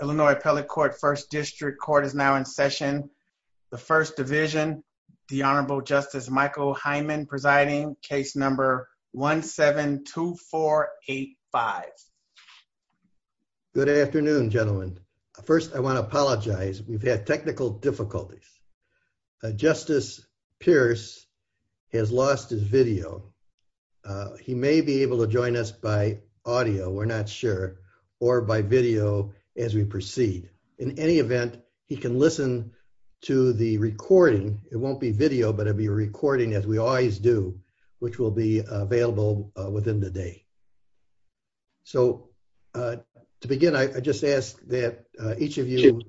Illinois Appellate Court First District Court is now in session. The First Division, the Honorable Justice Michael Hyman presiding, case number 1-7-2-4-8-5. Good afternoon, gentlemen. First, I want to apologize. We've had technical difficulties. Justice Pierce has lost his video. He may be able to join us by audio, we're not sure, or by video as we proceed. In any event, he can listen to the recording. It won't be video, but it'll be a recording as we always do, which will be available within the day. So to begin, I just ask that each of you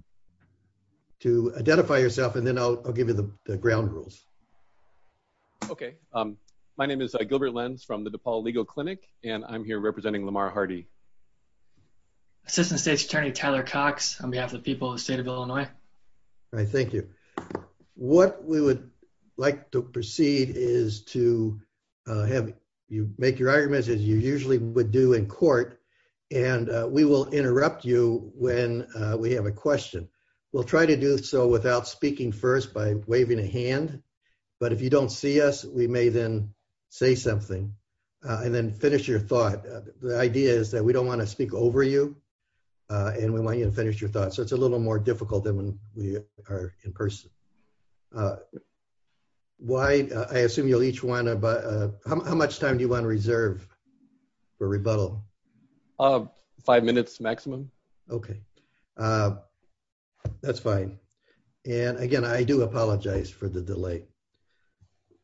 to identify yourself and then I'll give you the ground rules. Okay, my name is Gilbert Lenz from the DePaul Legal Clinic and I'm here representing Lamar Hardy. Assistant State's Attorney Tyler Cox on behalf of the people of the state of Illinois. All right, thank you. What we would like to proceed is to have you make your arguments as you usually would do in court and we will interrupt you when we have a question. We'll try to do so without speaking first by waving a hand, but if you don't see us, we may then say something and then finish your thought. The idea is that we don't want to speak over you and we want you to finish your thoughts, so it's a little more difficult than when we are in person. I assume you'll each want to, how much time do you want to reserve for rebuttal? Five minutes maximum. Okay, that's fine. And again, I do apologize for the delay.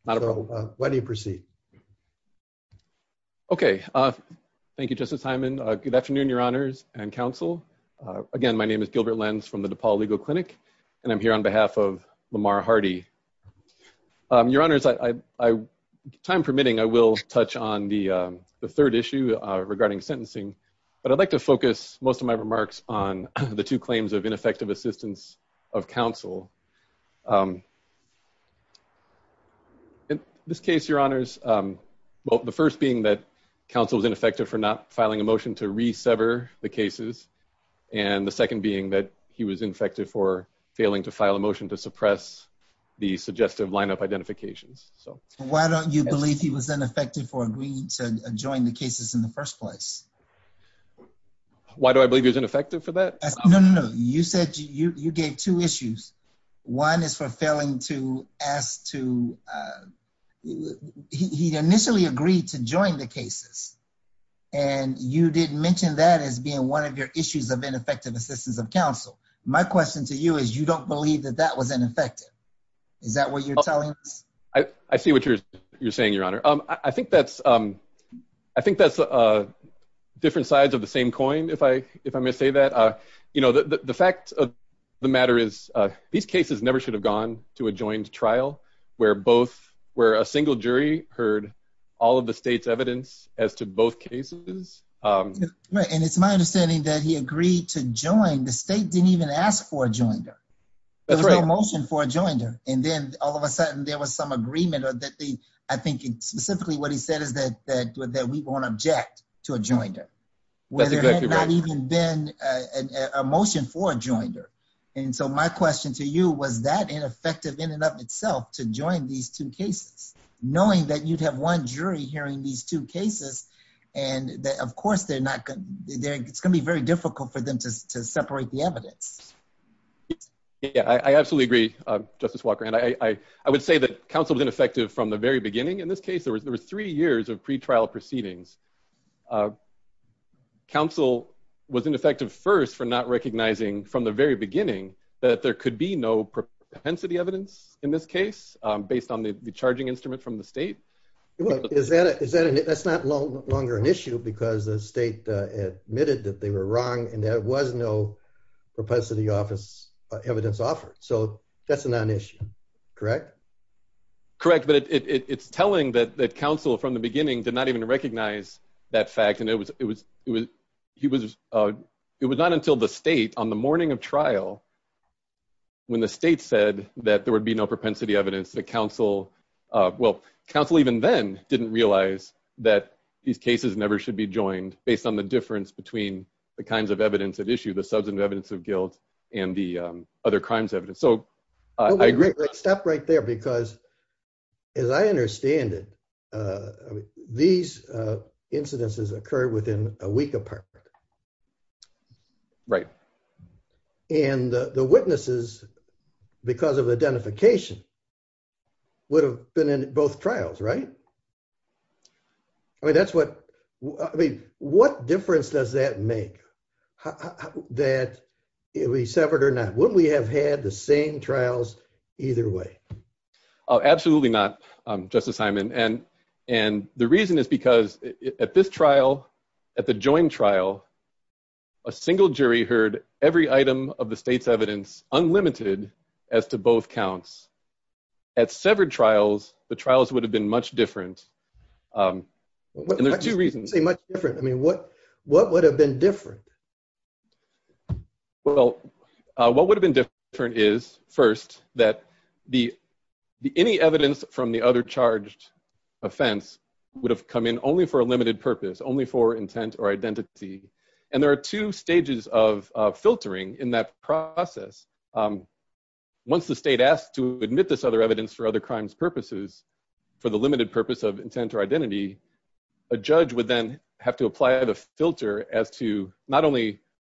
Why don't you proceed? Okay, thank you Justice Hyman. Good afternoon, your honors and counsel. Again, my name is Gilbert Lenz from the DePaul Legal Clinic and I'm here on behalf of Lamar Hardy. Your honors, time permitting, I will touch on the third issue regarding sentencing, but I'd like to focus most of my remarks on the two claims of ineffective assistance of counsel. In this case, your honors, well the first being that counsel was ineffective for not filing a motion to resever the cases and the second being that he was ineffective for failing to file a motion to suppress the suggestive lineup identifications. Why don't you believe he was ineffective for agreeing to join the cases in the first place? Why do I believe he was ineffective for that? No, no, you said you gave two issues. One is for failing to ask to, he initially agreed to join the cases and you didn't mention that as being one of your issues of ineffective assistance of counsel. My question to you is you don't believe that that was ineffective. Is that what you're telling us? I see what you're saying, your honor. I think that's different sides of the you know, the fact of the matter is these cases never should have gone to a joined trial where both, where a single jury heard all of the state's evidence as to both cases. Right, and it's my understanding that he agreed to join. The state didn't even ask for a joinder. There was no motion for a joinder and then all of a sudden there was some agreement or that the, I think specifically what he said is that that we won't object to a joinder where there had not even been a motion for a joinder and so my question to you was that ineffective in and of itself to join these two cases knowing that you'd have one jury hearing these two cases and that of course they're not gonna, it's gonna be very difficult for them to separate the evidence. Yeah, I absolutely agree Justice Walker and I would say that counsel was ineffective from the very beginning. In this case there was three years of counsel was ineffective first for not recognizing from the very beginning that there could be no propensity evidence in this case based on the charging instrument from the state. Well, is that, is that, that's not longer an issue because the state admitted that they were wrong and there was no propensity office evidence offered so that's a non-issue, correct? Correct, but it's telling that counsel from the beginning did not even recognize that fact and it was, it was, it was, he was, it was not until the state on the morning of trial when the state said that there would be no propensity evidence that counsel, well, counsel even then didn't realize that these cases never should be joined based on the difference between the kinds of evidence at issue, the substantive evidence of guilt and the other crimes evidence, so I agree. Stop right there because as I understand it, these incidences occurred within a week apart. Right. And the witnesses because of identification would have been in both trials, right? I mean, that's what, I mean, what difference does that make that if we severed or not? Wouldn't we have had the same trials either way? Absolutely not, Justice Hyman, and, and the reason is because at this trial, at the joint trial, a single jury heard every item of the state's evidence unlimited as to both counts. At severed trials, the trials would have been much different and there's two reasons. Much different, I mean, what, what would have been different? Well, what would have been different is first that the, any evidence from the other charged offense would have come in only for a limited purpose, only for intent or identity, and there are two stages of filtering in that process. Once the state asks to admit this other evidence for other crimes purposes, for the limited purpose of intent or identity, a judge would then have to apply the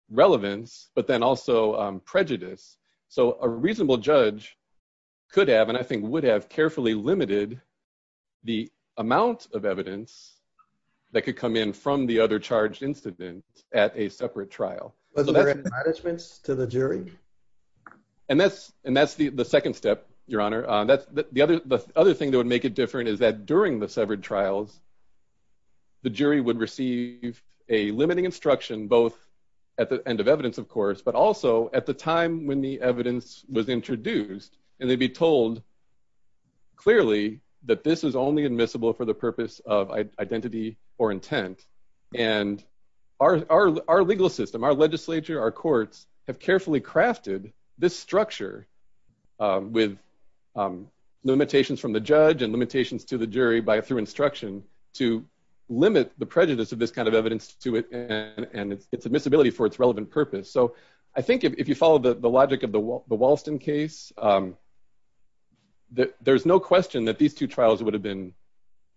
relevance, but then also prejudice, so a reasonable judge could have, and I think would have, carefully limited the amount of evidence that could come in from the other charged incident at a separate trial. Wasn't there adjudicements to the jury? And that's, and that's the, the second step, Your Honor. That's the other, the other thing that would make it different is that during the severed trials, the jury would receive a limiting instruction, both at the end of evidence, of course, but also at the time when the evidence was introduced, and they'd be told clearly that this is only admissible for the purpose of identity or intent, and our, our legal system, our legislature, our courts have carefully crafted this structure with limitations from the judge and instruction to limit the prejudice of this kind of evidence to it, and its admissibility for its relevant purpose, so I think if you follow the logic of the Walston case, there's no question that these two trials would have been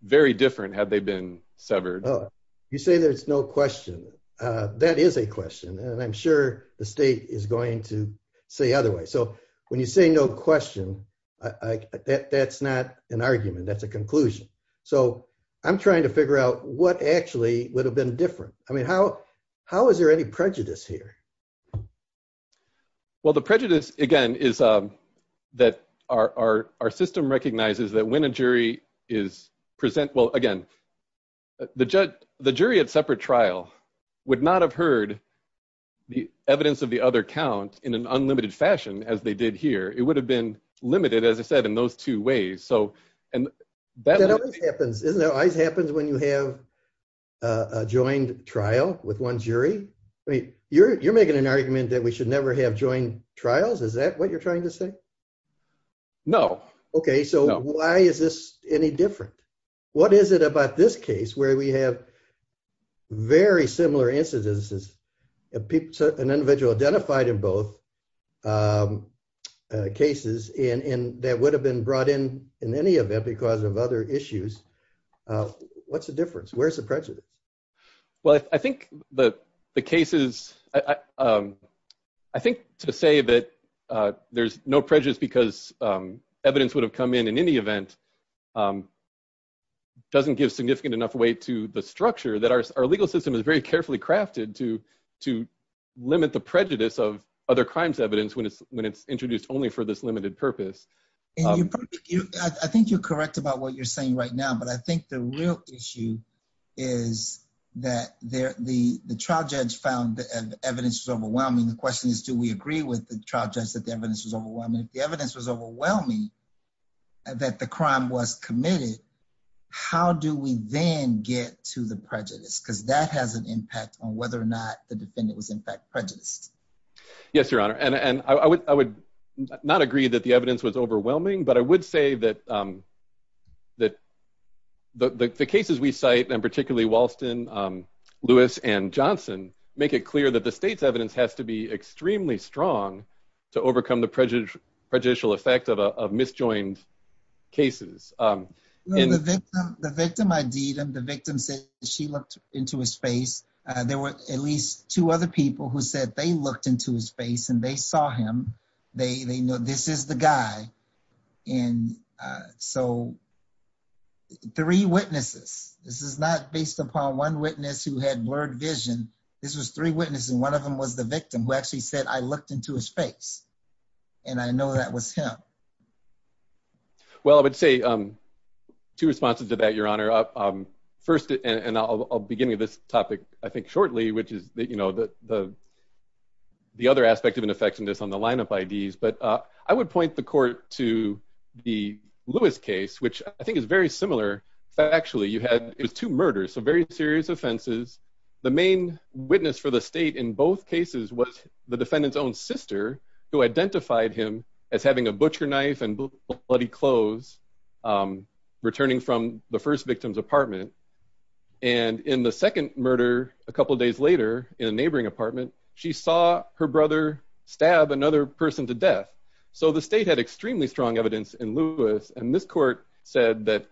very different had they been severed. Oh, you say there's no question. That is a question, and I'm sure the state is going to say otherwise, so when you say no question, that's not an argument, that's a so I'm trying to figure out what actually would have been different. I mean, how, how is there any prejudice here? Well, the prejudice, again, is that our, our, our system recognizes that when a jury is present, well, again, the judge, the jury at separate trial would not have heard the evidence of the other count in an unlimited fashion as they did here. It would have been limited, as I said, in those two ways, so, and that always happens, isn't it, always happens when you have a joined trial with one jury? I mean, you're, you're making an argument that we should never have joined trials, is that what you're trying to say? No. Okay, so why is this any different? What is it about this case where we have very similar incidences, people, an individual identified in both cases, and, and that would have been brought in in any event because of other issues? What's the difference? Where's the prejudice? Well, I think the, the cases, I think to say that there's no prejudice because evidence would have come in in any event doesn't give significant enough weight to the structure that our legal system is very carefully crafted to, to limit the prejudice of other crimes evidence when it's, when it's introduced only for this limited purpose. And you, I think you're correct about what you're saying right now, but I think the real issue is that there, the, the trial judge found the evidence was overwhelming. The question is, do we agree with the trial judge that the evidence was overwhelming? If the evidence was overwhelming that the crime was committed, how do we then get to the prejudice? Because that has an impact on whether or not the defendant was in fact prejudiced. Yes, your honor. And, and I would, I would not agree that the evidence was overwhelming, but I would say that, that the, the cases we cite, and particularly Walston, Lewis and Johnson, make it clear that the state's evidence has to be extremely strong to overcome the prejudice, prejudicial effect of a, of misjoined cases. The victim, the victim ID'd him. The victim said she looked into his face. There were at least two other people who said they looked into his face and they saw him. They, they know this is the guy. And so three witnesses, this is not based upon one witness who had blurred vision. This was three witnesses and one of them was the victim who actually said, I looked into his face. And I know that was him. Well, I would say, two responses to that, your honor. First, and I'll begin with this topic, I think shortly, which is that, you know, the, the, the other aspect of ineffectiveness on the lineup IDs, but I would point the court to the Lewis case, which I think is very similar factually. You had, it was two murders, so very serious offenses. The main witness for the state in both cases was the defendant's own sister who identified him as having a butcher knife and bloody clothes returning from the first victim's apartment. And in the second murder, a couple days later in a neighboring apartment, she saw her brother stab another person to death. So the state had extremely strong evidence in Lewis and this court said that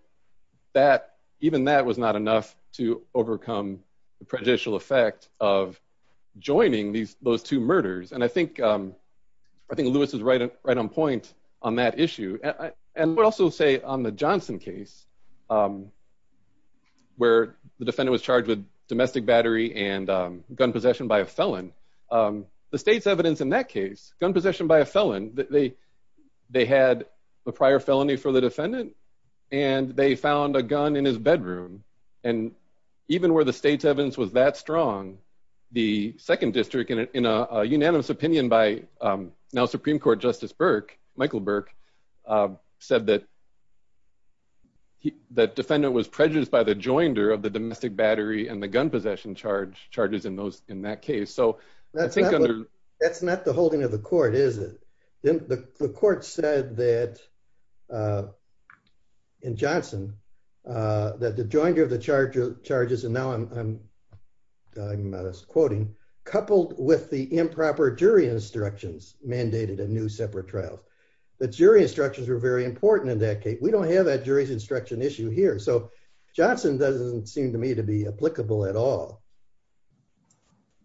that, even that was not enough to overcome the prejudicial effect of joining these, those two murders. And I think, I think Lewis is right, right on point on that issue. And I would also say on the Johnson case, where the defendant was charged with domestic battery and gun possession by a felon, the state's evidence in that case, gun possession by a felon, they, they had a prior felony for the defendant and they found a gun in his bedroom. And even where the state's evidence was that strong, the second district, in a unanimous opinion by now Supreme Court Justice Burke, Michael Burke, said that he, that defendant was prejudiced by the joinder of the domestic battery and the gun possession charge, charges in those, in that case. So I think that's not the holding of the court, is it? The court said that in Johnson, that the joinder of the charges, and now I'm, I'm quoting, coupled with the improper jury instructions mandated in new separate trials. The jury instructions were very important in that case. We don't have that jury's instruction issue here. So Johnson doesn't seem to me to be applicable at all.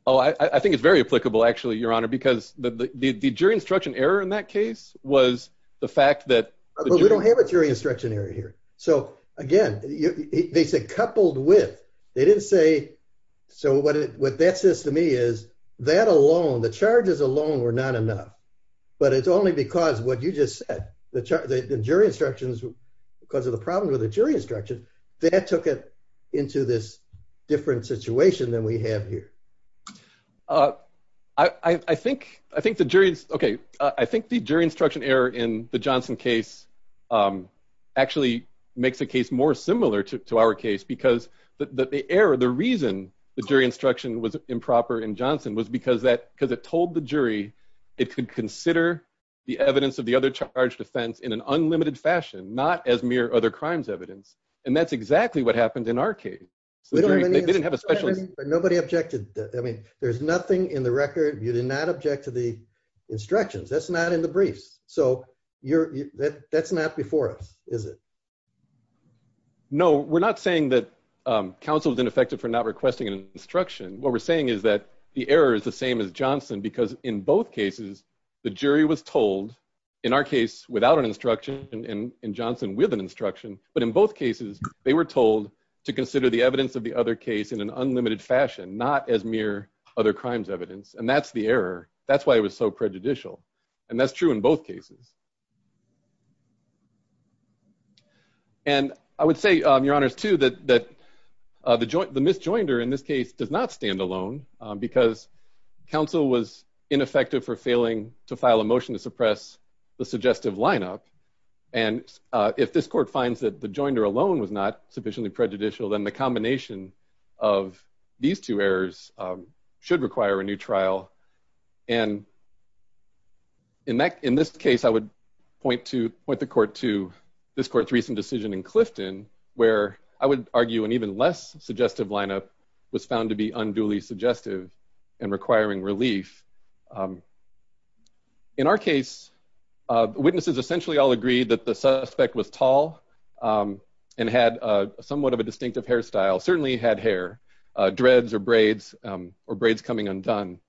Oh, I, I think it's very applicable actually, your honor, because the, the, the jury instruction error in that case was the fact that... But we don't have a jury instruction error here. So again, they said coupled with, they what that says to me is that alone, the charges alone were not enough. But it's only because what you just said, the jury instructions, because of the problem with the jury instruction, that took it into this different situation than we have here. Uh, I, I think, I think the jury's, okay, I think the jury instruction error in the Johnson case actually makes the case more similar to our case because the error, the reason the jury instruction was improper in Johnson was because that, because it told the jury it could consider the evidence of the other charged offense in an unlimited fashion, not as mere other crimes evidence. And that's exactly what happened in our case. They didn't have a special... Nobody objected. I mean, there's nothing in the record, you did not object to the instructions. That's not in the briefs. So you're, that's not before us, is it? No, we're not saying that, um, counsel is ineffective for not requesting an instruction. What we're saying is that the error is the same as Johnson because in both cases, the jury was told, in our case without an instruction, and in Johnson with an instruction, but in both cases, they were told to consider the evidence of the other case in an unlimited fashion, not as mere other crimes evidence. And that's the error. That's why it was so prejudicial. And that's true in both cases. And I would say, um, your honors, too, that that the joint, the misjoinder in this case does not stand alone because counsel was ineffective for failing to file a motion to suppress the suggestive lineup. And if this court finds that the joinder alone was not sufficiently prejudicial, then the combination of these two errors should require a new point to point the court to this court's recent decision in Clifton, where I would argue an even less suggestive lineup was found to be unduly suggestive and requiring relief. In our case, witnesses essentially all agreed that the suspect was tall and had somewhat of a distinctive hairstyle, certainly had hair, dreads or braids, or braids coming undone.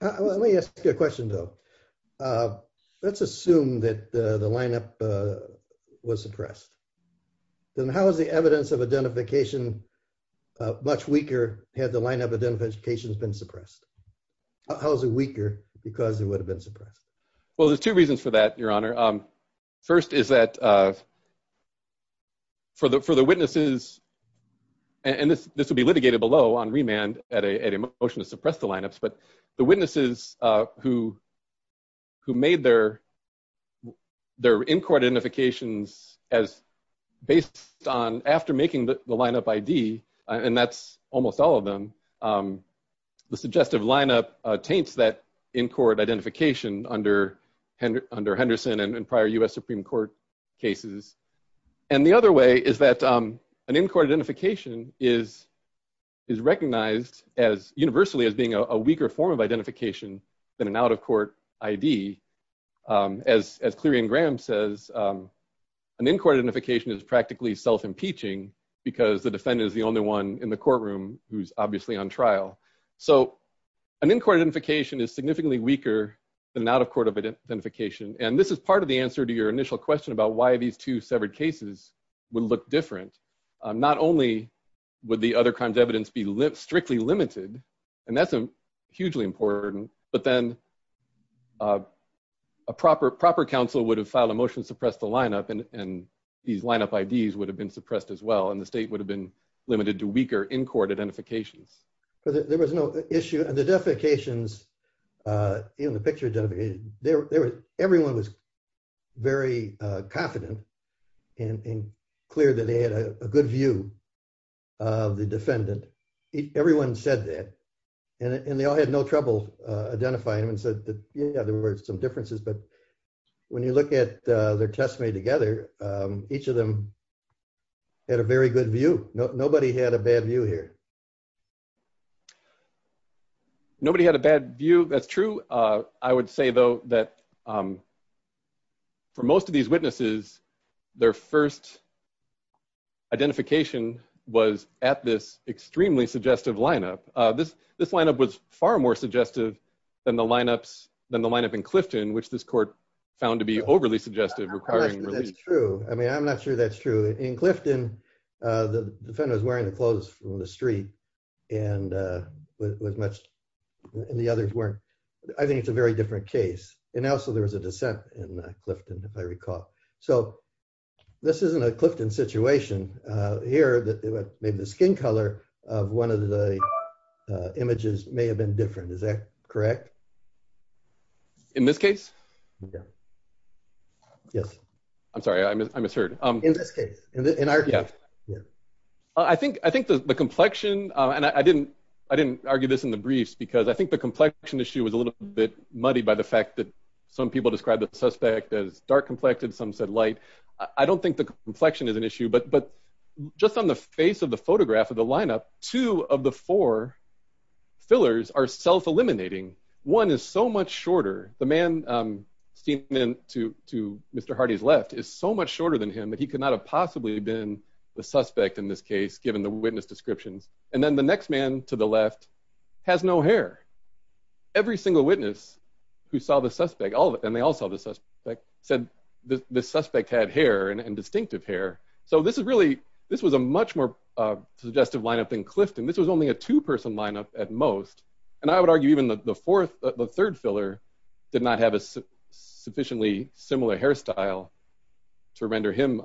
Let me ask you a question, though. Let's assume that the lineup was suppressed. Then how is the evidence of identification much weaker had the lineup identification been suppressed? How is it weaker because it would have been suppressed? Well, there's two reasons for that, your honor. First is that for the, for the witnesses, and this, this would be litigated below on remand at a motion to suppress the lineups, but the witnesses who, who made their, their in-court identifications as based on after making the lineup ID, and that's almost all of them, the suggestive lineup taints that in-court identification under, under Henderson and prior U.S. Supreme Court cases. And the other way is that an in-court identification is, is recognized as universally as being a weaker form of identification than an out-of-court ID. As, as Clarion Graham says, an in-court identification is practically self-impeaching because the defendant is the only one in the courtroom who's obviously on trial. So an in-court identification is significantly weaker than out-of-court identification, and this is part of the answer to your initial question about why these two cases would look different. Not only would the other crimes evidence be strictly limited, and that's a hugely important, but then a proper, proper counsel would have filed a motion to suppress the lineup and, and these lineup IDs would have been suppressed as well, and the state would have been limited to weaker in-court identifications. But there was no issue, and the defecations, in the picture, there, there was, everyone was very, uh, confident and, and clear that they had a good view of the defendant. Everyone said that, and, and they all had no trouble, uh, identifying them and said that, yeah, there were some differences, but when you look at, uh, their testimony together, um, each of them had a very good view. Nobody had a bad view here. Nobody had a bad view, that's true. Uh, I would say, though, that, um, for most of these witnesses, their first identification was at this extremely suggestive lineup. Uh, this, this lineup was far more suggestive than the lineups, than the lineup in Clifton, which this court found to be overly suggestive, requiring relief. That's true. I mean, I'm not sure that's true. In Clifton, uh, the defendant was wearing the clothes from the street, and, uh, was much, and the others weren't. I think it's a very different case. And also, there was a dissent in Clifton, if I recall. So, this isn't a Clifton situation. Uh, here, maybe the skin color of one of the, uh, images may have been different. Is that correct? In this case? Yeah. Yes. I'm sorry, I misheard. In this case. In our case. Yeah. I think, I think the, the complexion, uh, and I didn't, I didn't argue this in the briefs, because I think the complexion issue was a little bit muddy by the fact that some people described the suspect as dark-complected, some said light. I don't think the complexion is an issue, but, but just on the face of the photograph of the lineup, two of the four fillers are self-eliminating. One is so much shorter. The man, um, steaming in to, to Mr. Hardy's left is so much shorter than him that he could not have possibly been the suspect in this case, given the witness descriptions. And then the next man to the left has no hair. Every single witness who saw the suspect, all of it, and they all saw the suspect, said the suspect had hair and distinctive hair. So, this is really, this was a much more, uh, suggestive lineup than Clifton. This was only a two-person lineup at most, and I would argue even the fourth, the third filler did not have a sufficiently similar hairstyle to render him,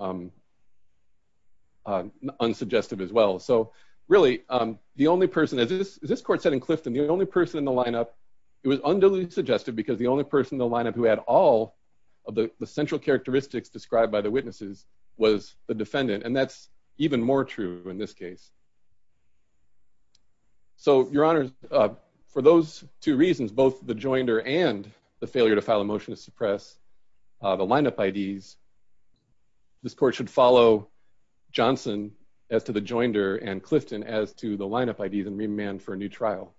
um, unsuggestive as well. So, really, um, the only person, as this, as this court said in Clifton, the only person in the lineup, it was unduly suggestive because the only person in the lineup who had all of the, the central characteristics described by the witnesses was the defendant, and that's even more true in this case. So, Your Honor, uh, for those two reasons, both the joinder and the failure to file a motion to suppress, uh, the lineup IDs, this court should follow Johnson as to the joinder and Clifton as to the lineup IDs and remand for a new trial.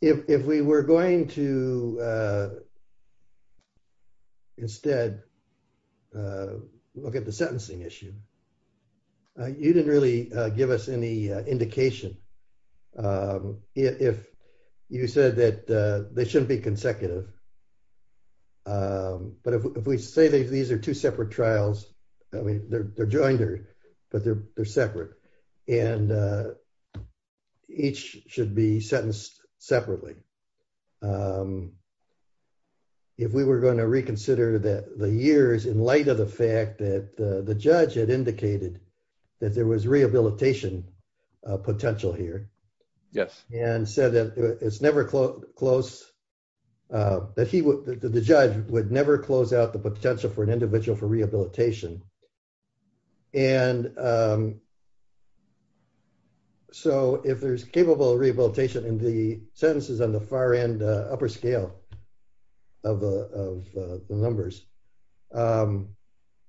If, if we were going to, uh, instead, uh, look at the sentencing issue, you didn't really, uh, give us any, uh, indication. Um, if you said that, uh, they shouldn't be consecutive, um, but if we say that these are two separate trials, I mean, they're, they're joinder, but they're, they're separate, and, uh, each should be sentenced separately. Um, if we were going to reconsider that the years in light of the fact that the judge had indicated that there was rehabilitation, uh, potential here. Yes. And said that it's never close, close, uh, that he would, the judge would never close out the potential for an individual for rehabilitation. And, um, so if there's capable of rehabilitation in the sentences on the far end, uh, upper scale of the, of the numbers, um,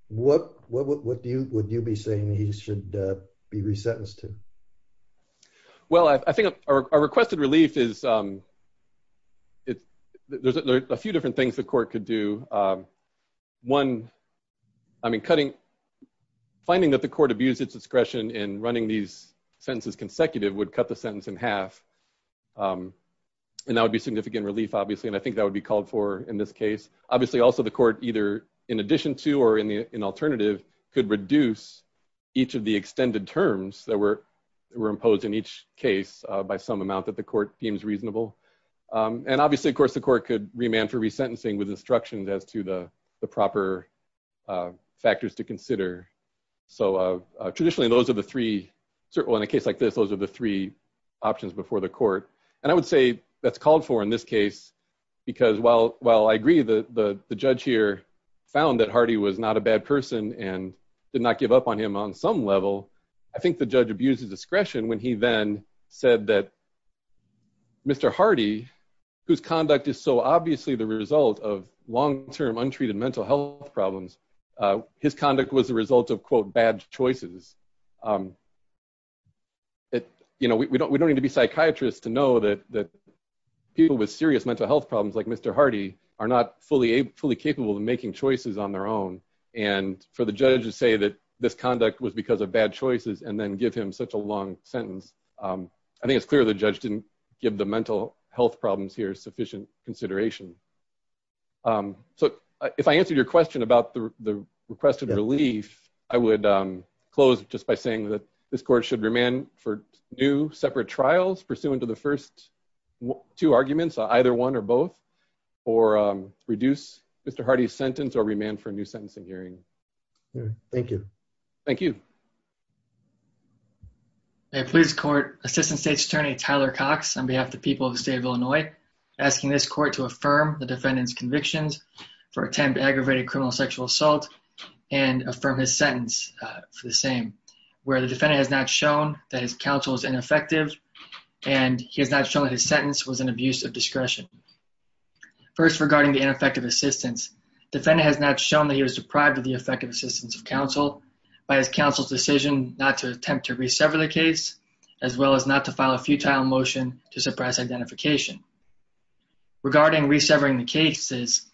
what, what, what do you, would you be saying that he should, uh, be resentenced to? Well, I think our requested relief is, um, it's, there's a few different things the court could do. Um, one, I mean, cutting, finding that the court abused its discretion in running these sentences consecutive would cut the sentence in half. Um, and that would be significant relief, obviously. And I think that would be called for in this case, obviously also the court either in addition to, or in the, in terms that were, were imposed in each case, uh, by some amount that the court deems reasonable. Um, and obviously of course the court could remand for resentencing with instructions as to the, the proper, uh, factors to consider. So, uh, traditionally those are the three certain, in a case like this, those are the three options before the court. And I would say that's called for in this case because while, while I agree that the, the judge here found that Hardy was not a bad person and did not give up on him on some level, I think the judge abused his discretion when he then said that Mr. Hardy, whose conduct is so obviously the result of long-term untreated mental health problems, uh, his conduct was the result of quote bad choices. Um, it, you know, we don't, we don't need to be psychiatrists to know that, that people with serious mental health problems like Mr. Hardy are not fully, fully capable of making choices on their own. And for the judge to say that this conduct was because of bad choices and then give him such a long sentence, um, I think it's clear the judge didn't give the mental health problems here sufficient consideration. Um, so if I answered your question about the requested relief, I would, um, close just by saying that this court should remand for new separate trials pursuant to the first two arguments, either one or both, or, um, All right. Thank you. Thank you. A police court assistant state's attorney Tyler Cox on behalf of the people of the state of Illinois, asking this court to affirm the defendant's convictions for attempt to aggravate a criminal sexual assault and affirm his sentence for the same, where the defendant has not shown that his counsel is ineffective and he has not shown that his sentence was an abuse of discretion. First, regarding the ineffective assistance, defendant has not shown that he was deprived of the effective assistance of counsel by his counsel's decision not to attempt to re-sever the case, as well as not to file a futile motion to suppress identification. Regarding re-severing the cases,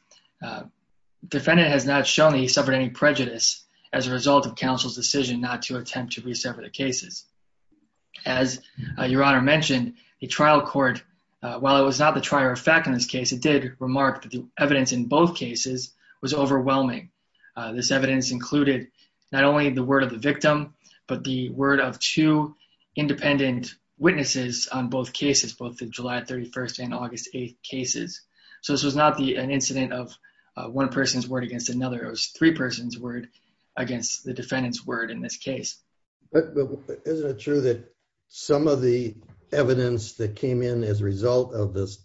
defendant has not shown that he suffered any prejudice as a result of counsel's decision not to attempt to re-sever the cases. As your honor mentioned, the trial court, while it was not the trier of fact in this case, it did remark that the this evidence included not only the word of the victim, but the word of two independent witnesses on both cases, both the July 31st and August 8th cases. So this was not the an incident of one person's word against another, it was three person's word against the defendant's word in this case. But isn't it true that some of the evidence that came in as a result of this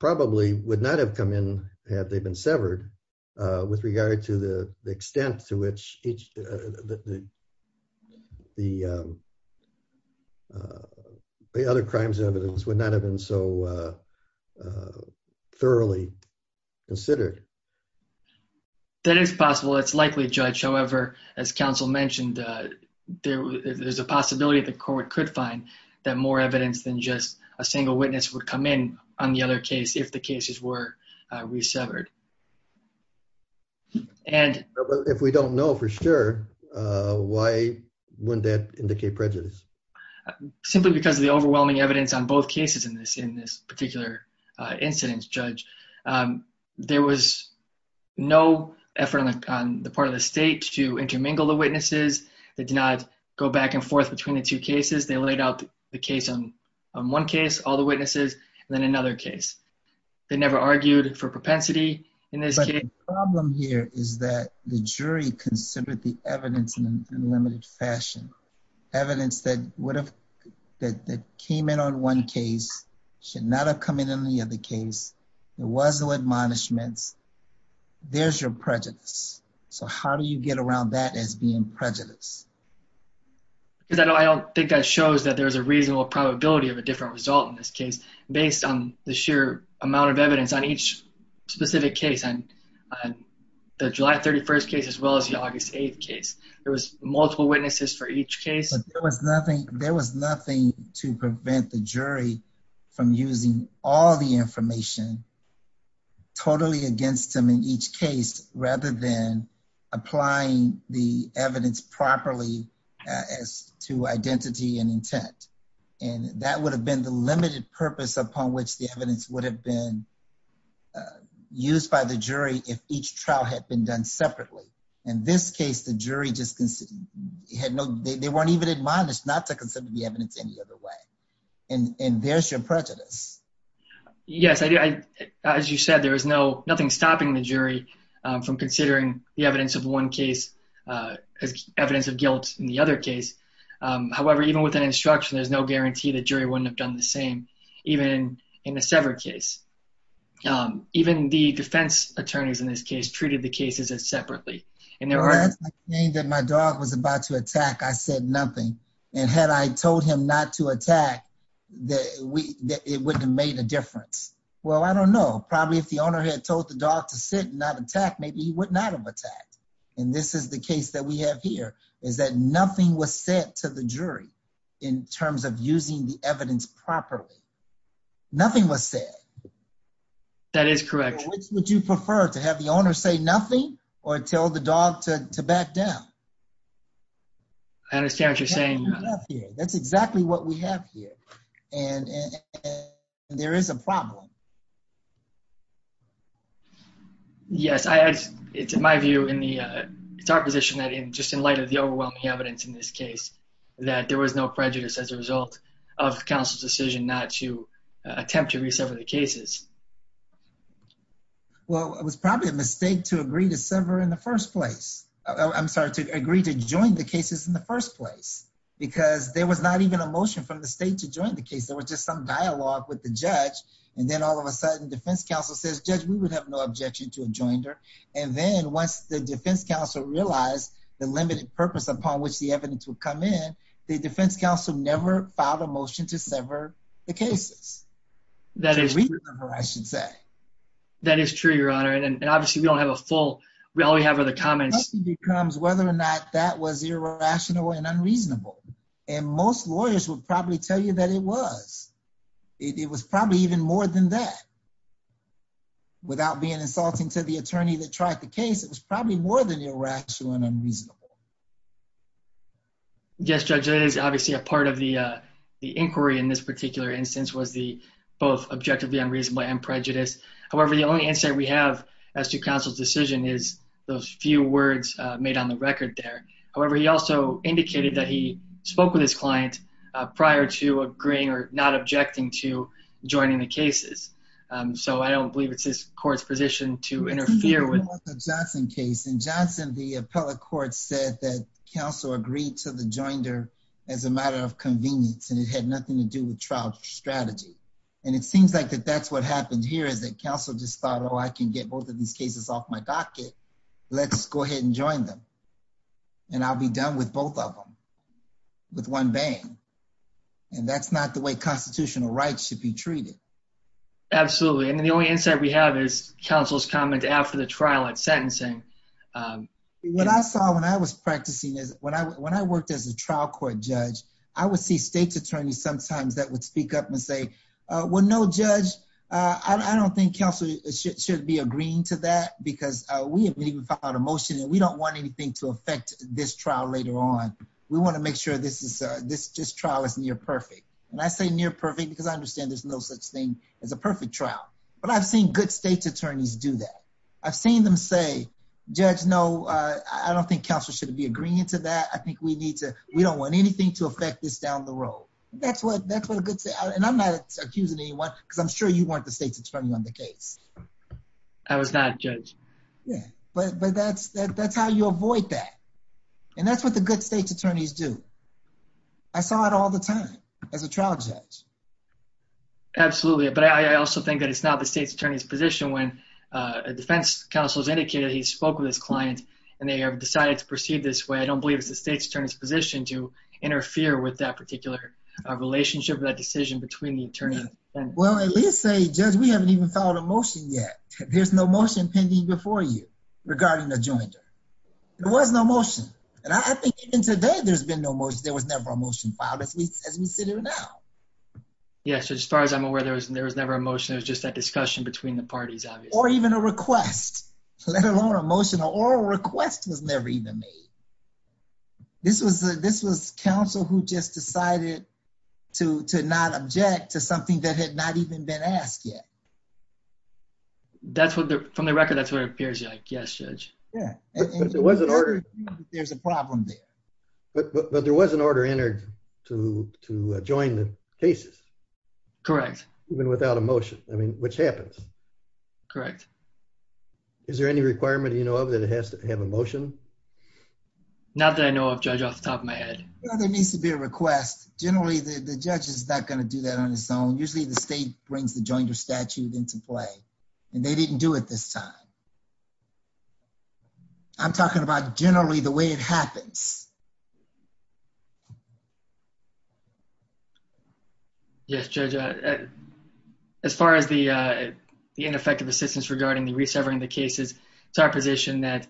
probably would not have come in had they been severed with regard to the extent to which the other crimes evidence would not have been so thoroughly considered? That is possible. It's likely, Judge. However, as counsel mentioned, there's a possibility the court could find that more evidence than just a single witness would come in on the other case if the cases were re-severed. If we don't know for sure, why wouldn't that indicate prejudice? Simply because of the overwhelming evidence on both cases in this particular incident, Judge. There was no effort on the part of the state to intermingle the witnesses. They did not go back and forth between the two cases. They laid out the case on one case, all the witnesses, and then another case. They never argued for propensity in this case. But the problem here is that the jury considered the evidence in an unlimited fashion. Evidence that would have that came in on one case should not have come in on the other case. There was no admonishments. There's your prejudice. So how do you get around that as being prejudice? Because I don't think that shows that there's a reasonable probability of a different result in this case based on the sheer amount of evidence on each specific case, on the July 31st case as well as the August 8th case. There was multiple witnesses for each case. But there was nothing to prevent the jury from using all the information totally against them in each case rather than applying the evidence properly as to identity and intent. And that would have been the limited purpose upon which the evidence would have been used by the jury if each trial had been done separately. In this case, the jury just had no, they weren't even admonished not to consider the evidence any other way. And there's your prejudice. Yes, as you said, there is no nothing stopping the jury from considering the evidence of one case as evidence of guilt in the other case. However, even with an instruction, there's no guarantee the jury wouldn't have done the same, even in a severed case. Even the defense attorneys in this case treated the cases as separately. And there were... When I explained that my dog was about to attack, I said nothing. And had I told him not to attack, it wouldn't have made a difference. Well, I don't know. Probably if the owner had told the dog to sit and not attack, maybe he would not have attacked. And this is the case that we have here, is that nothing was said to the jury in terms of using the evidence properly. Nothing was said. That is correct. Which would you prefer, to have the owner say nothing or tell the dog to back down? I understand what you're saying. That's exactly what we have here. And there is a problem. Yes, I... It's my view in the... It's our position that in just in light of the overwhelming evidence in this case, that there was no prejudice as a result of counsel's decision not to attempt to re-sever the cases. Well, it was probably a mistake to agree to sever in the first place. I'm sorry, to agree to join the cases in the first place. Because there was not even a motion from the state to join the case. There was just some dialogue with the judge. And then all of a sudden, defense counsel says, Judge, we would have no objection to a joinder. And then once the defense counsel realized the limited purpose upon which the evidence would come in, the defense counsel never filed a motion to sever the cases. That is true, Your Honor. And obviously, we don't have a full... All we have are the comments. Whether or not that was irrational and unreasonable. And most lawyers would probably tell you that it was. It was probably even more than that. Without being insulting to the attorney that tried the case, it was probably more than irrational and unreasonable. Yes, Judge, that is obviously a part of the inquiry in this particular instance was the both objectively unreasonable and prejudice. However, the only answer we have as to counsel's decision is those few words made on the record there. However, he also indicated that he spoke with his client prior to agreeing or not objecting to joining the cases. So I don't believe it's his court's position to interfere with... In the Johnson case. In Johnson, the appellate court said that counsel agreed to the joinder as a matter of convenience. And it had nothing to do with trial strategy. And it seems like that that's what happened here is that counsel just thought, I can get both of these cases off my docket. Let's go ahead and join them. And I'll be done with both of them with one bang. And that's not the way constitutional rights should be treated. Absolutely. And the only insight we have is counsel's comment after the trial at sentencing. What I saw when I was practicing is when I worked as a trial court judge, I would see state's attorneys sometimes that would speak up and say, well, no judge, I don't think counsel should be agreeing to that because we haven't even filed a motion and we don't want anything to affect this trial later on. We want to make sure this trial is near perfect. And I say near perfect because I understand there's no such thing as a perfect trial. But I've seen good state's attorneys do that. I've seen them say, judge, no, I don't think counsel should be agreeing to that. I think we need to... We don't want anything to affect this down the road. That's what a good... And I'm not accusing anyone because I'm sure you weren't the state's attorney on the case. I was not a judge. Yeah, but that's how you avoid that. And that's what the good state's attorneys do. I saw it all the time as a trial judge. Absolutely. But I also think that it's not the state's attorney's position when a defense counsel has indicated he spoke with his client and they have decided to proceed this way. I don't believe it's the state's attorney's position to interfere with that particular relationship or that decision between the attorney and... Well, at least say, judge, we haven't even filed a motion yet. There's no motion pending before you regarding the jointer. There was no motion. And I think even today there's been no motion. There was never a motion filed as we sit here now. Yeah, so as far as I'm aware, there was never a motion. It was just that discussion between the parties, obviously. Or even a request, let alone a motion. An oral request was never even made. This was counsel who just decided to not object to something that had not even been asked yet. From the record, that's what it appears like. Yes, judge. Yeah. There's a problem there. But there was an order entered to join the cases. Correct. Even without a motion, I mean, which happens. Correct. Is there any requirement that it has to have a motion? Not that I know of, judge, off the top of my head. No, there needs to be a request. Generally, the judge is not going to do that on his own. Usually the state brings the jointer statute into play. And they didn't do it this time. I'm talking about generally the way it happens. Yes, judge. As far as the ineffective assistance regarding the resevering the cases, it's our position that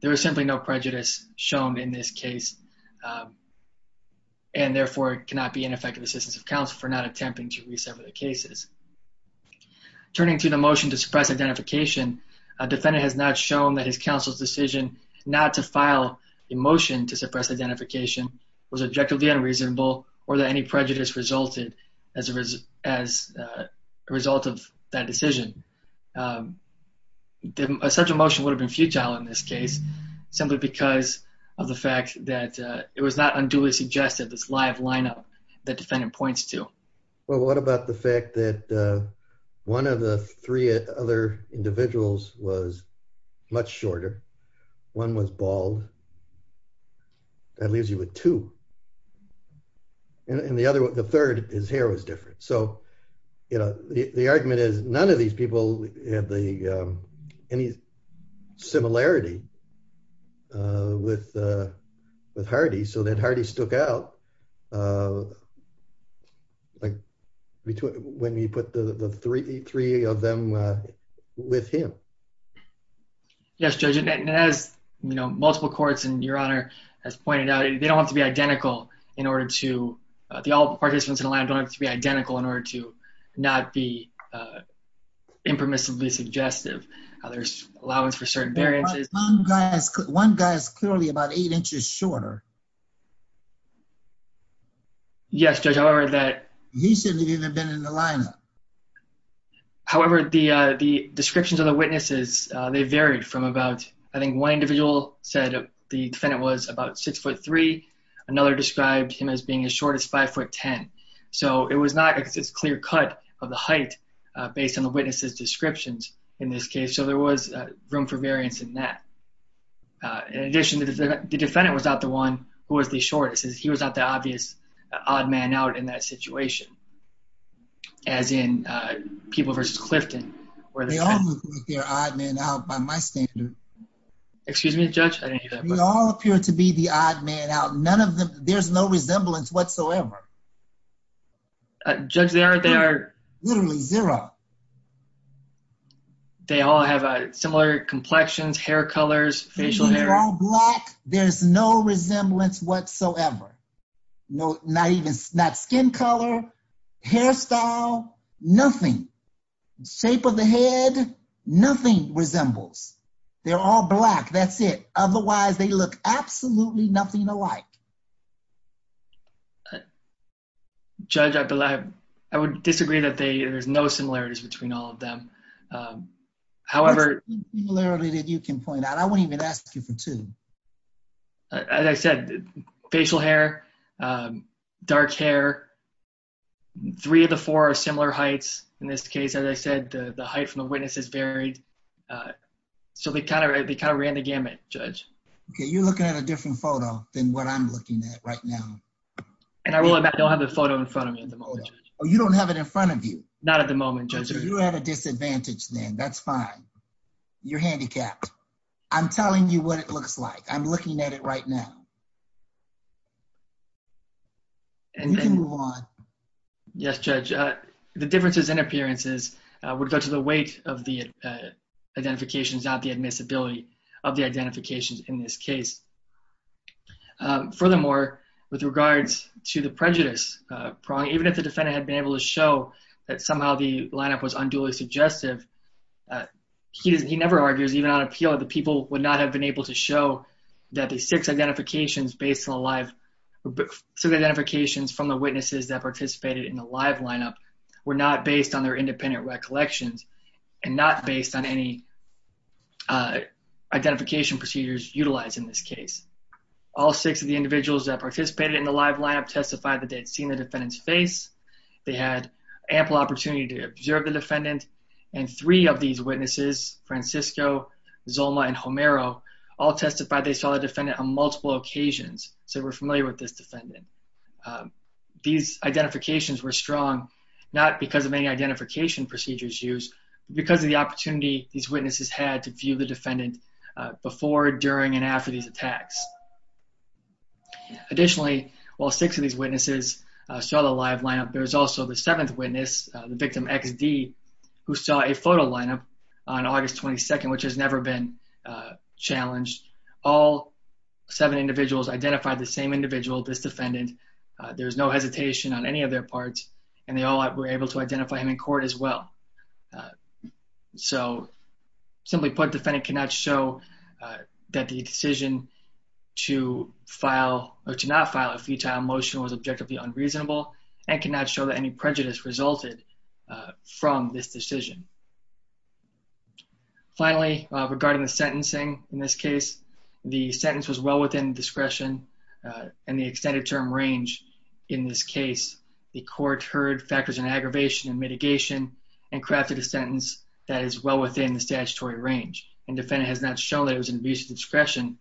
there was simply no prejudice shown in this case. And therefore, it cannot be ineffective assistance of counsel for not attempting to resever the cases. Turning to the motion to suppress identification, a defendant has not shown that his counsel's decision not to file a motion to suppress identification was objectively unreasonable, or that any prejudice resulted as a result of that decision. Such a motion would have been futile in this case, simply because of the fact that it was not unduly suggested this live lineup that defendant points to. Well, what about the fact that one of the three other individuals was much shorter? One was bald. That leaves you with two. And the third, his hair was different. So the argument is none of these people have any similarity with Hardy. So then Hardy stook out when he put the three of them with him. Yes, judge. And as multiple courts and your honor has pointed out, they don't have to be identical in order to... Participants in a lineup don't have to be identical in order to not be impermissibly suggestive. There's allowance for certain variances. One guy is clearly about eight inches shorter. Yes, judge, however that... He shouldn't have even been in the lineup. However, the descriptions of the witnesses, they varied from about, I think one individual said the defendant was about six foot three. Another described him as being as short as five foot 10. So it was not a clear cut of the height based on the witness's descriptions in this case. So there was room for variance in that. In addition, the defendant was not the one who was the shortest. He was not the obvious odd man out in that situation. As in people versus Clifton. Where they all look like they're odd man out by my standard. Excuse me, judge, I didn't hear that. We all appear to be the odd man out. None of them, there's no resemblance whatsoever. Judge, they aren't, they are... Literally zero. They all have similar complexions, hair colors, facial hair. They're all black. There's no resemblance whatsoever. Not even, not skin color, hairstyle, nothing. Shape of the head, nothing resembles. They're all black, that's it. Otherwise they look absolutely nothing alike. Judge, I believe, I would disagree that they, there's no similarities between all of them. However... You can point out. I wouldn't even ask you for two. As I said, facial hair, dark hair. Three of the four are similar heights. In this case, as I said, the height from the witness is varied. So they kind of ran the gamut, judge. Okay, you're looking at a different photo than what I'm looking at right now. And I don't have the photo in front of me at the moment. Oh, you don't have it in front of you? Not at the moment, judge. You have a disadvantage then, that's fine. You're handicapped. I'm telling you what it looks like. I'm looking at it right now. And you can move on. Yes, judge, the differences in appearances would go to the weight of the identifications, not the admissibility of the identifications in this case. Furthermore, with regards to the prejudice prong, even if the defendant had been able to show that somehow the lineup was unduly suggestive, he never argues, even on appeal, the people would not have been able to show that the six identifications based on the live, so the identifications from the witnesses that participated in the live lineup were not based on their independent recollections and not based on any identification procedures utilized in this case. All six of the individuals that participated in the live lineup testified that they'd seen the defendant's face. They had ample opportunity to observe the defendant. And three of these witnesses, Francisco, Zoma, and Homero, all testified they saw the defendant on multiple occasions so they were familiar with this defendant. These identifications were strong not because of any identification procedures used, but because of the opportunity these witnesses had to view the defendant before, during, and after these attacks. Additionally, while six of these witnesses saw the live lineup, there was also the seventh witness, the victim XD, who saw a photo lineup on August 22nd, which has never been challenged. All seven individuals identified the same individual, this defendant. There was no hesitation on any of their parts and they all were able to identify him in court as well. So simply put, defendant cannot show that the decision to file or to not file a futile motion was objectively unreasonable and cannot show that any prejudice resulted from this decision. Finally, regarding the sentencing in this case, the sentence was well within discretion and the extended term range in this case, the court heard factors in aggravation and mitigation and crafted a sentence that is well within the statutory range and defendant has not shown that it was an abuse of discretion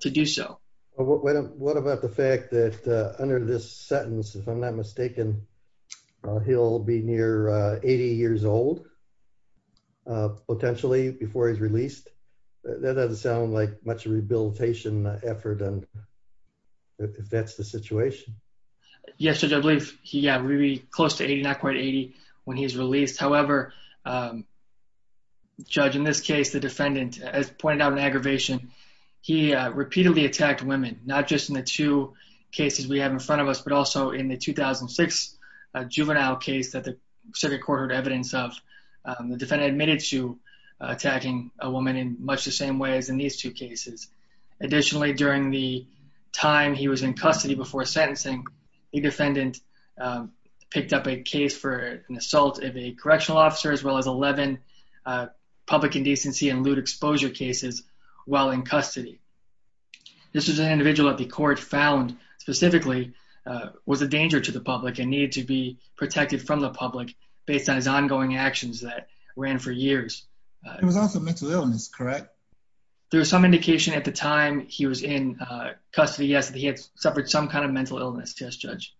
to do so. Well, what about the fact that under this sentence, if I'm not mistaken, he'll be near 80 years old, potentially before he's released. That doesn't sound like much rehabilitation effort if that's the situation. Yes, Judge, I believe he got really close to 80, not quite 80 when he's released. However, Judge, in this case, the defendant, as pointed out in aggravation, he repeatedly attacked women, not just in the two cases we have in front of us, but also in the 2006 juvenile case that the circuit court heard evidence of. The defendant admitted to attacking a woman in much the same way as in these two cases. Additionally, during the time he was in custody before sentencing, the defendant picked up a case for an assault of a correctional officer, as well as 11 public indecency and lewd exposure cases while in custody. This was an individual that the court found specifically was a danger to the public and needed to be protected from the public based on his ongoing actions that ran for years. It was also mental illness, correct? There was some indication at the time he was in custody, yes, that he had suffered some kind of mental illness, yes, Judge.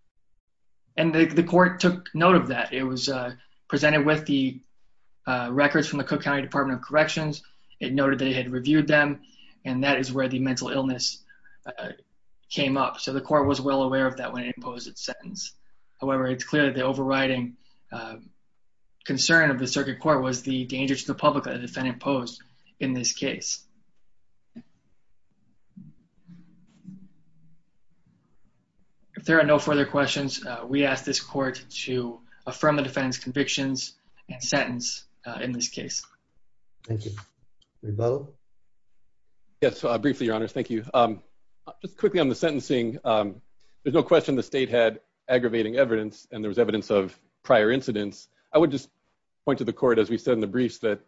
And the court took note of that. It was presented with the records from the Cook County Department of Corrections. It noted that it had reviewed them and that is where the mental illness came up. So the court was well aware of that when it imposed its sentence. However, it's clear that the overriding concern of the circuit court was the danger to the public that the defendant posed in this case. If there are no further questions, we ask this court to affirm the defendant's convictions and sentence in this case. Thank you. Yes, briefly, your honors. Thank you. Just quickly on the sentencing, there's no question the state had aggravating evidence and there was evidence of prior incidents. I would just point to the court, as we said in the briefs, that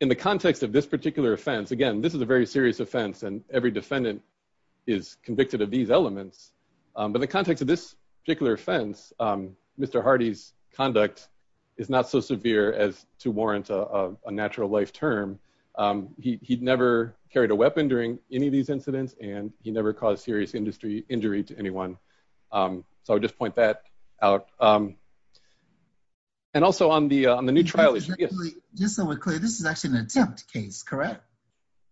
in the context of this particular offense, again, this is a very serious offense and every defendant is convicted of these elements. But in the context of this particular offense, Mr. Hardy's conduct is not so severe as to warrant a natural life term. He'd never carried a weapon during any of these incidents and he never caused serious industry injury to anyone. So I would just point that out. And also on the new trial... Just so we're clear, this is actually an attempt case, correct?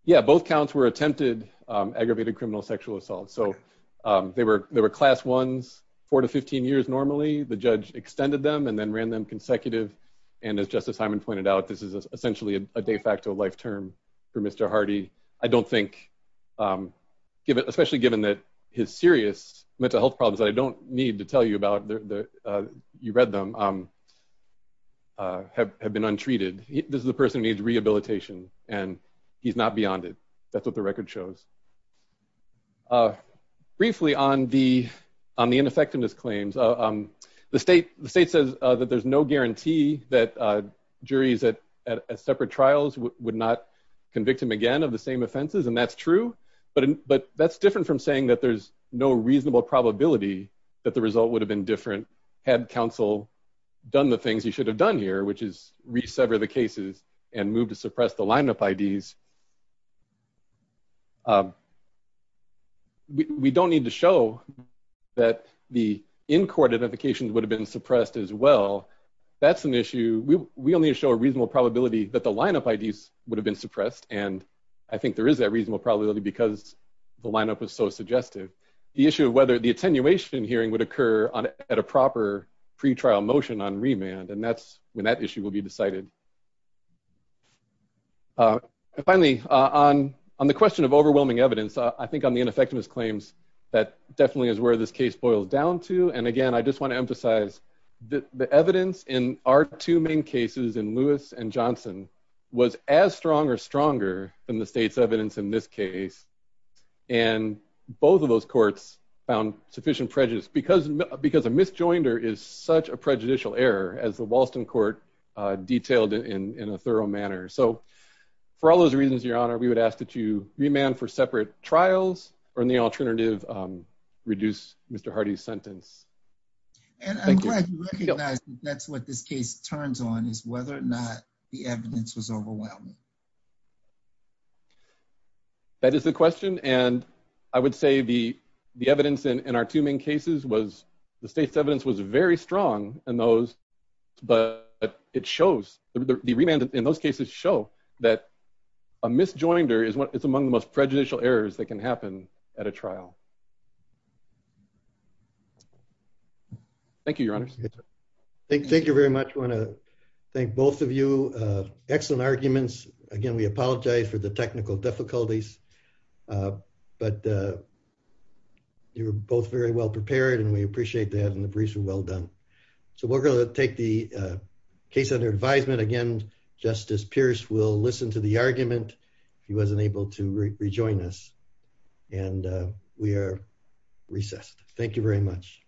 Yeah, both counts were attempted aggravated criminal sexual assault. So they were class ones, four to 15 years normally. The judge extended them and then ran them consecutive. And as Justice Hyman pointed out, this is essentially a de facto life term for Mr. Hardy. I don't think, especially given that his serious mental health problems that I don't need to tell you about, you read them, have been untreated. This is a person who needs rehabilitation and he's not beyond it. That's what the record shows. Briefly on the ineffectiveness claims, the state says that there's no guarantee that juries at separate trials would not convict him again of the same offenses. And that's true, but that's different from saying that there's no reasonable probability that the result would have been different had counsel done the things you should have done here, which is resever the cases and move to suppress the lineup IDs. We don't need to show that the in-court identifications would have been suppressed as well. That's an issue. We only show a reasonable probability that the lineup IDs would have been suppressed. And I think there is that reasonable probability because the lineup was so suggestive. The issue of whether the attenuation hearing would occur at a proper pre-trial motion on remand, and that's when that issue will be decided. Finally, on the question of overwhelming evidence, I think on the ineffectiveness claims, that definitely is where this case boils down to. And again, I just want to emphasize that the evidence in our two main cases in Lewis and Johnson was as strong or stronger than the state's evidence in this case. And both of those courts found sufficient prejudice because a misjoinder is such a prejudicial error as the Walston Court detailed in a thorough manner. So for all those reasons, Your Honor, we would ask that you remand for separate trials or in the alternative, reduce Mr. Hardy's sentence. Thank you. And I'm glad you recognize that's what this case turns on is whether or not the evidence was overwhelming. That is the question. And I would say the evidence in our two main cases was the state's evidence was very strong in those, but it shows, the remand in those cases show that a misjoinder is among the most prejudicial errors that can happen at a trial. Thank you, Your Honors. Thank you very much. I want to thank both of you. Excellent arguments. Again, we apologize for the technical difficulties, but you were both very well prepared and we appreciate that and the briefs were well done. So we're going to take the case under advisement again. Justice Pierce will listen to the argument. He wasn't able to rejoin us and we are recessed. Thank you very much.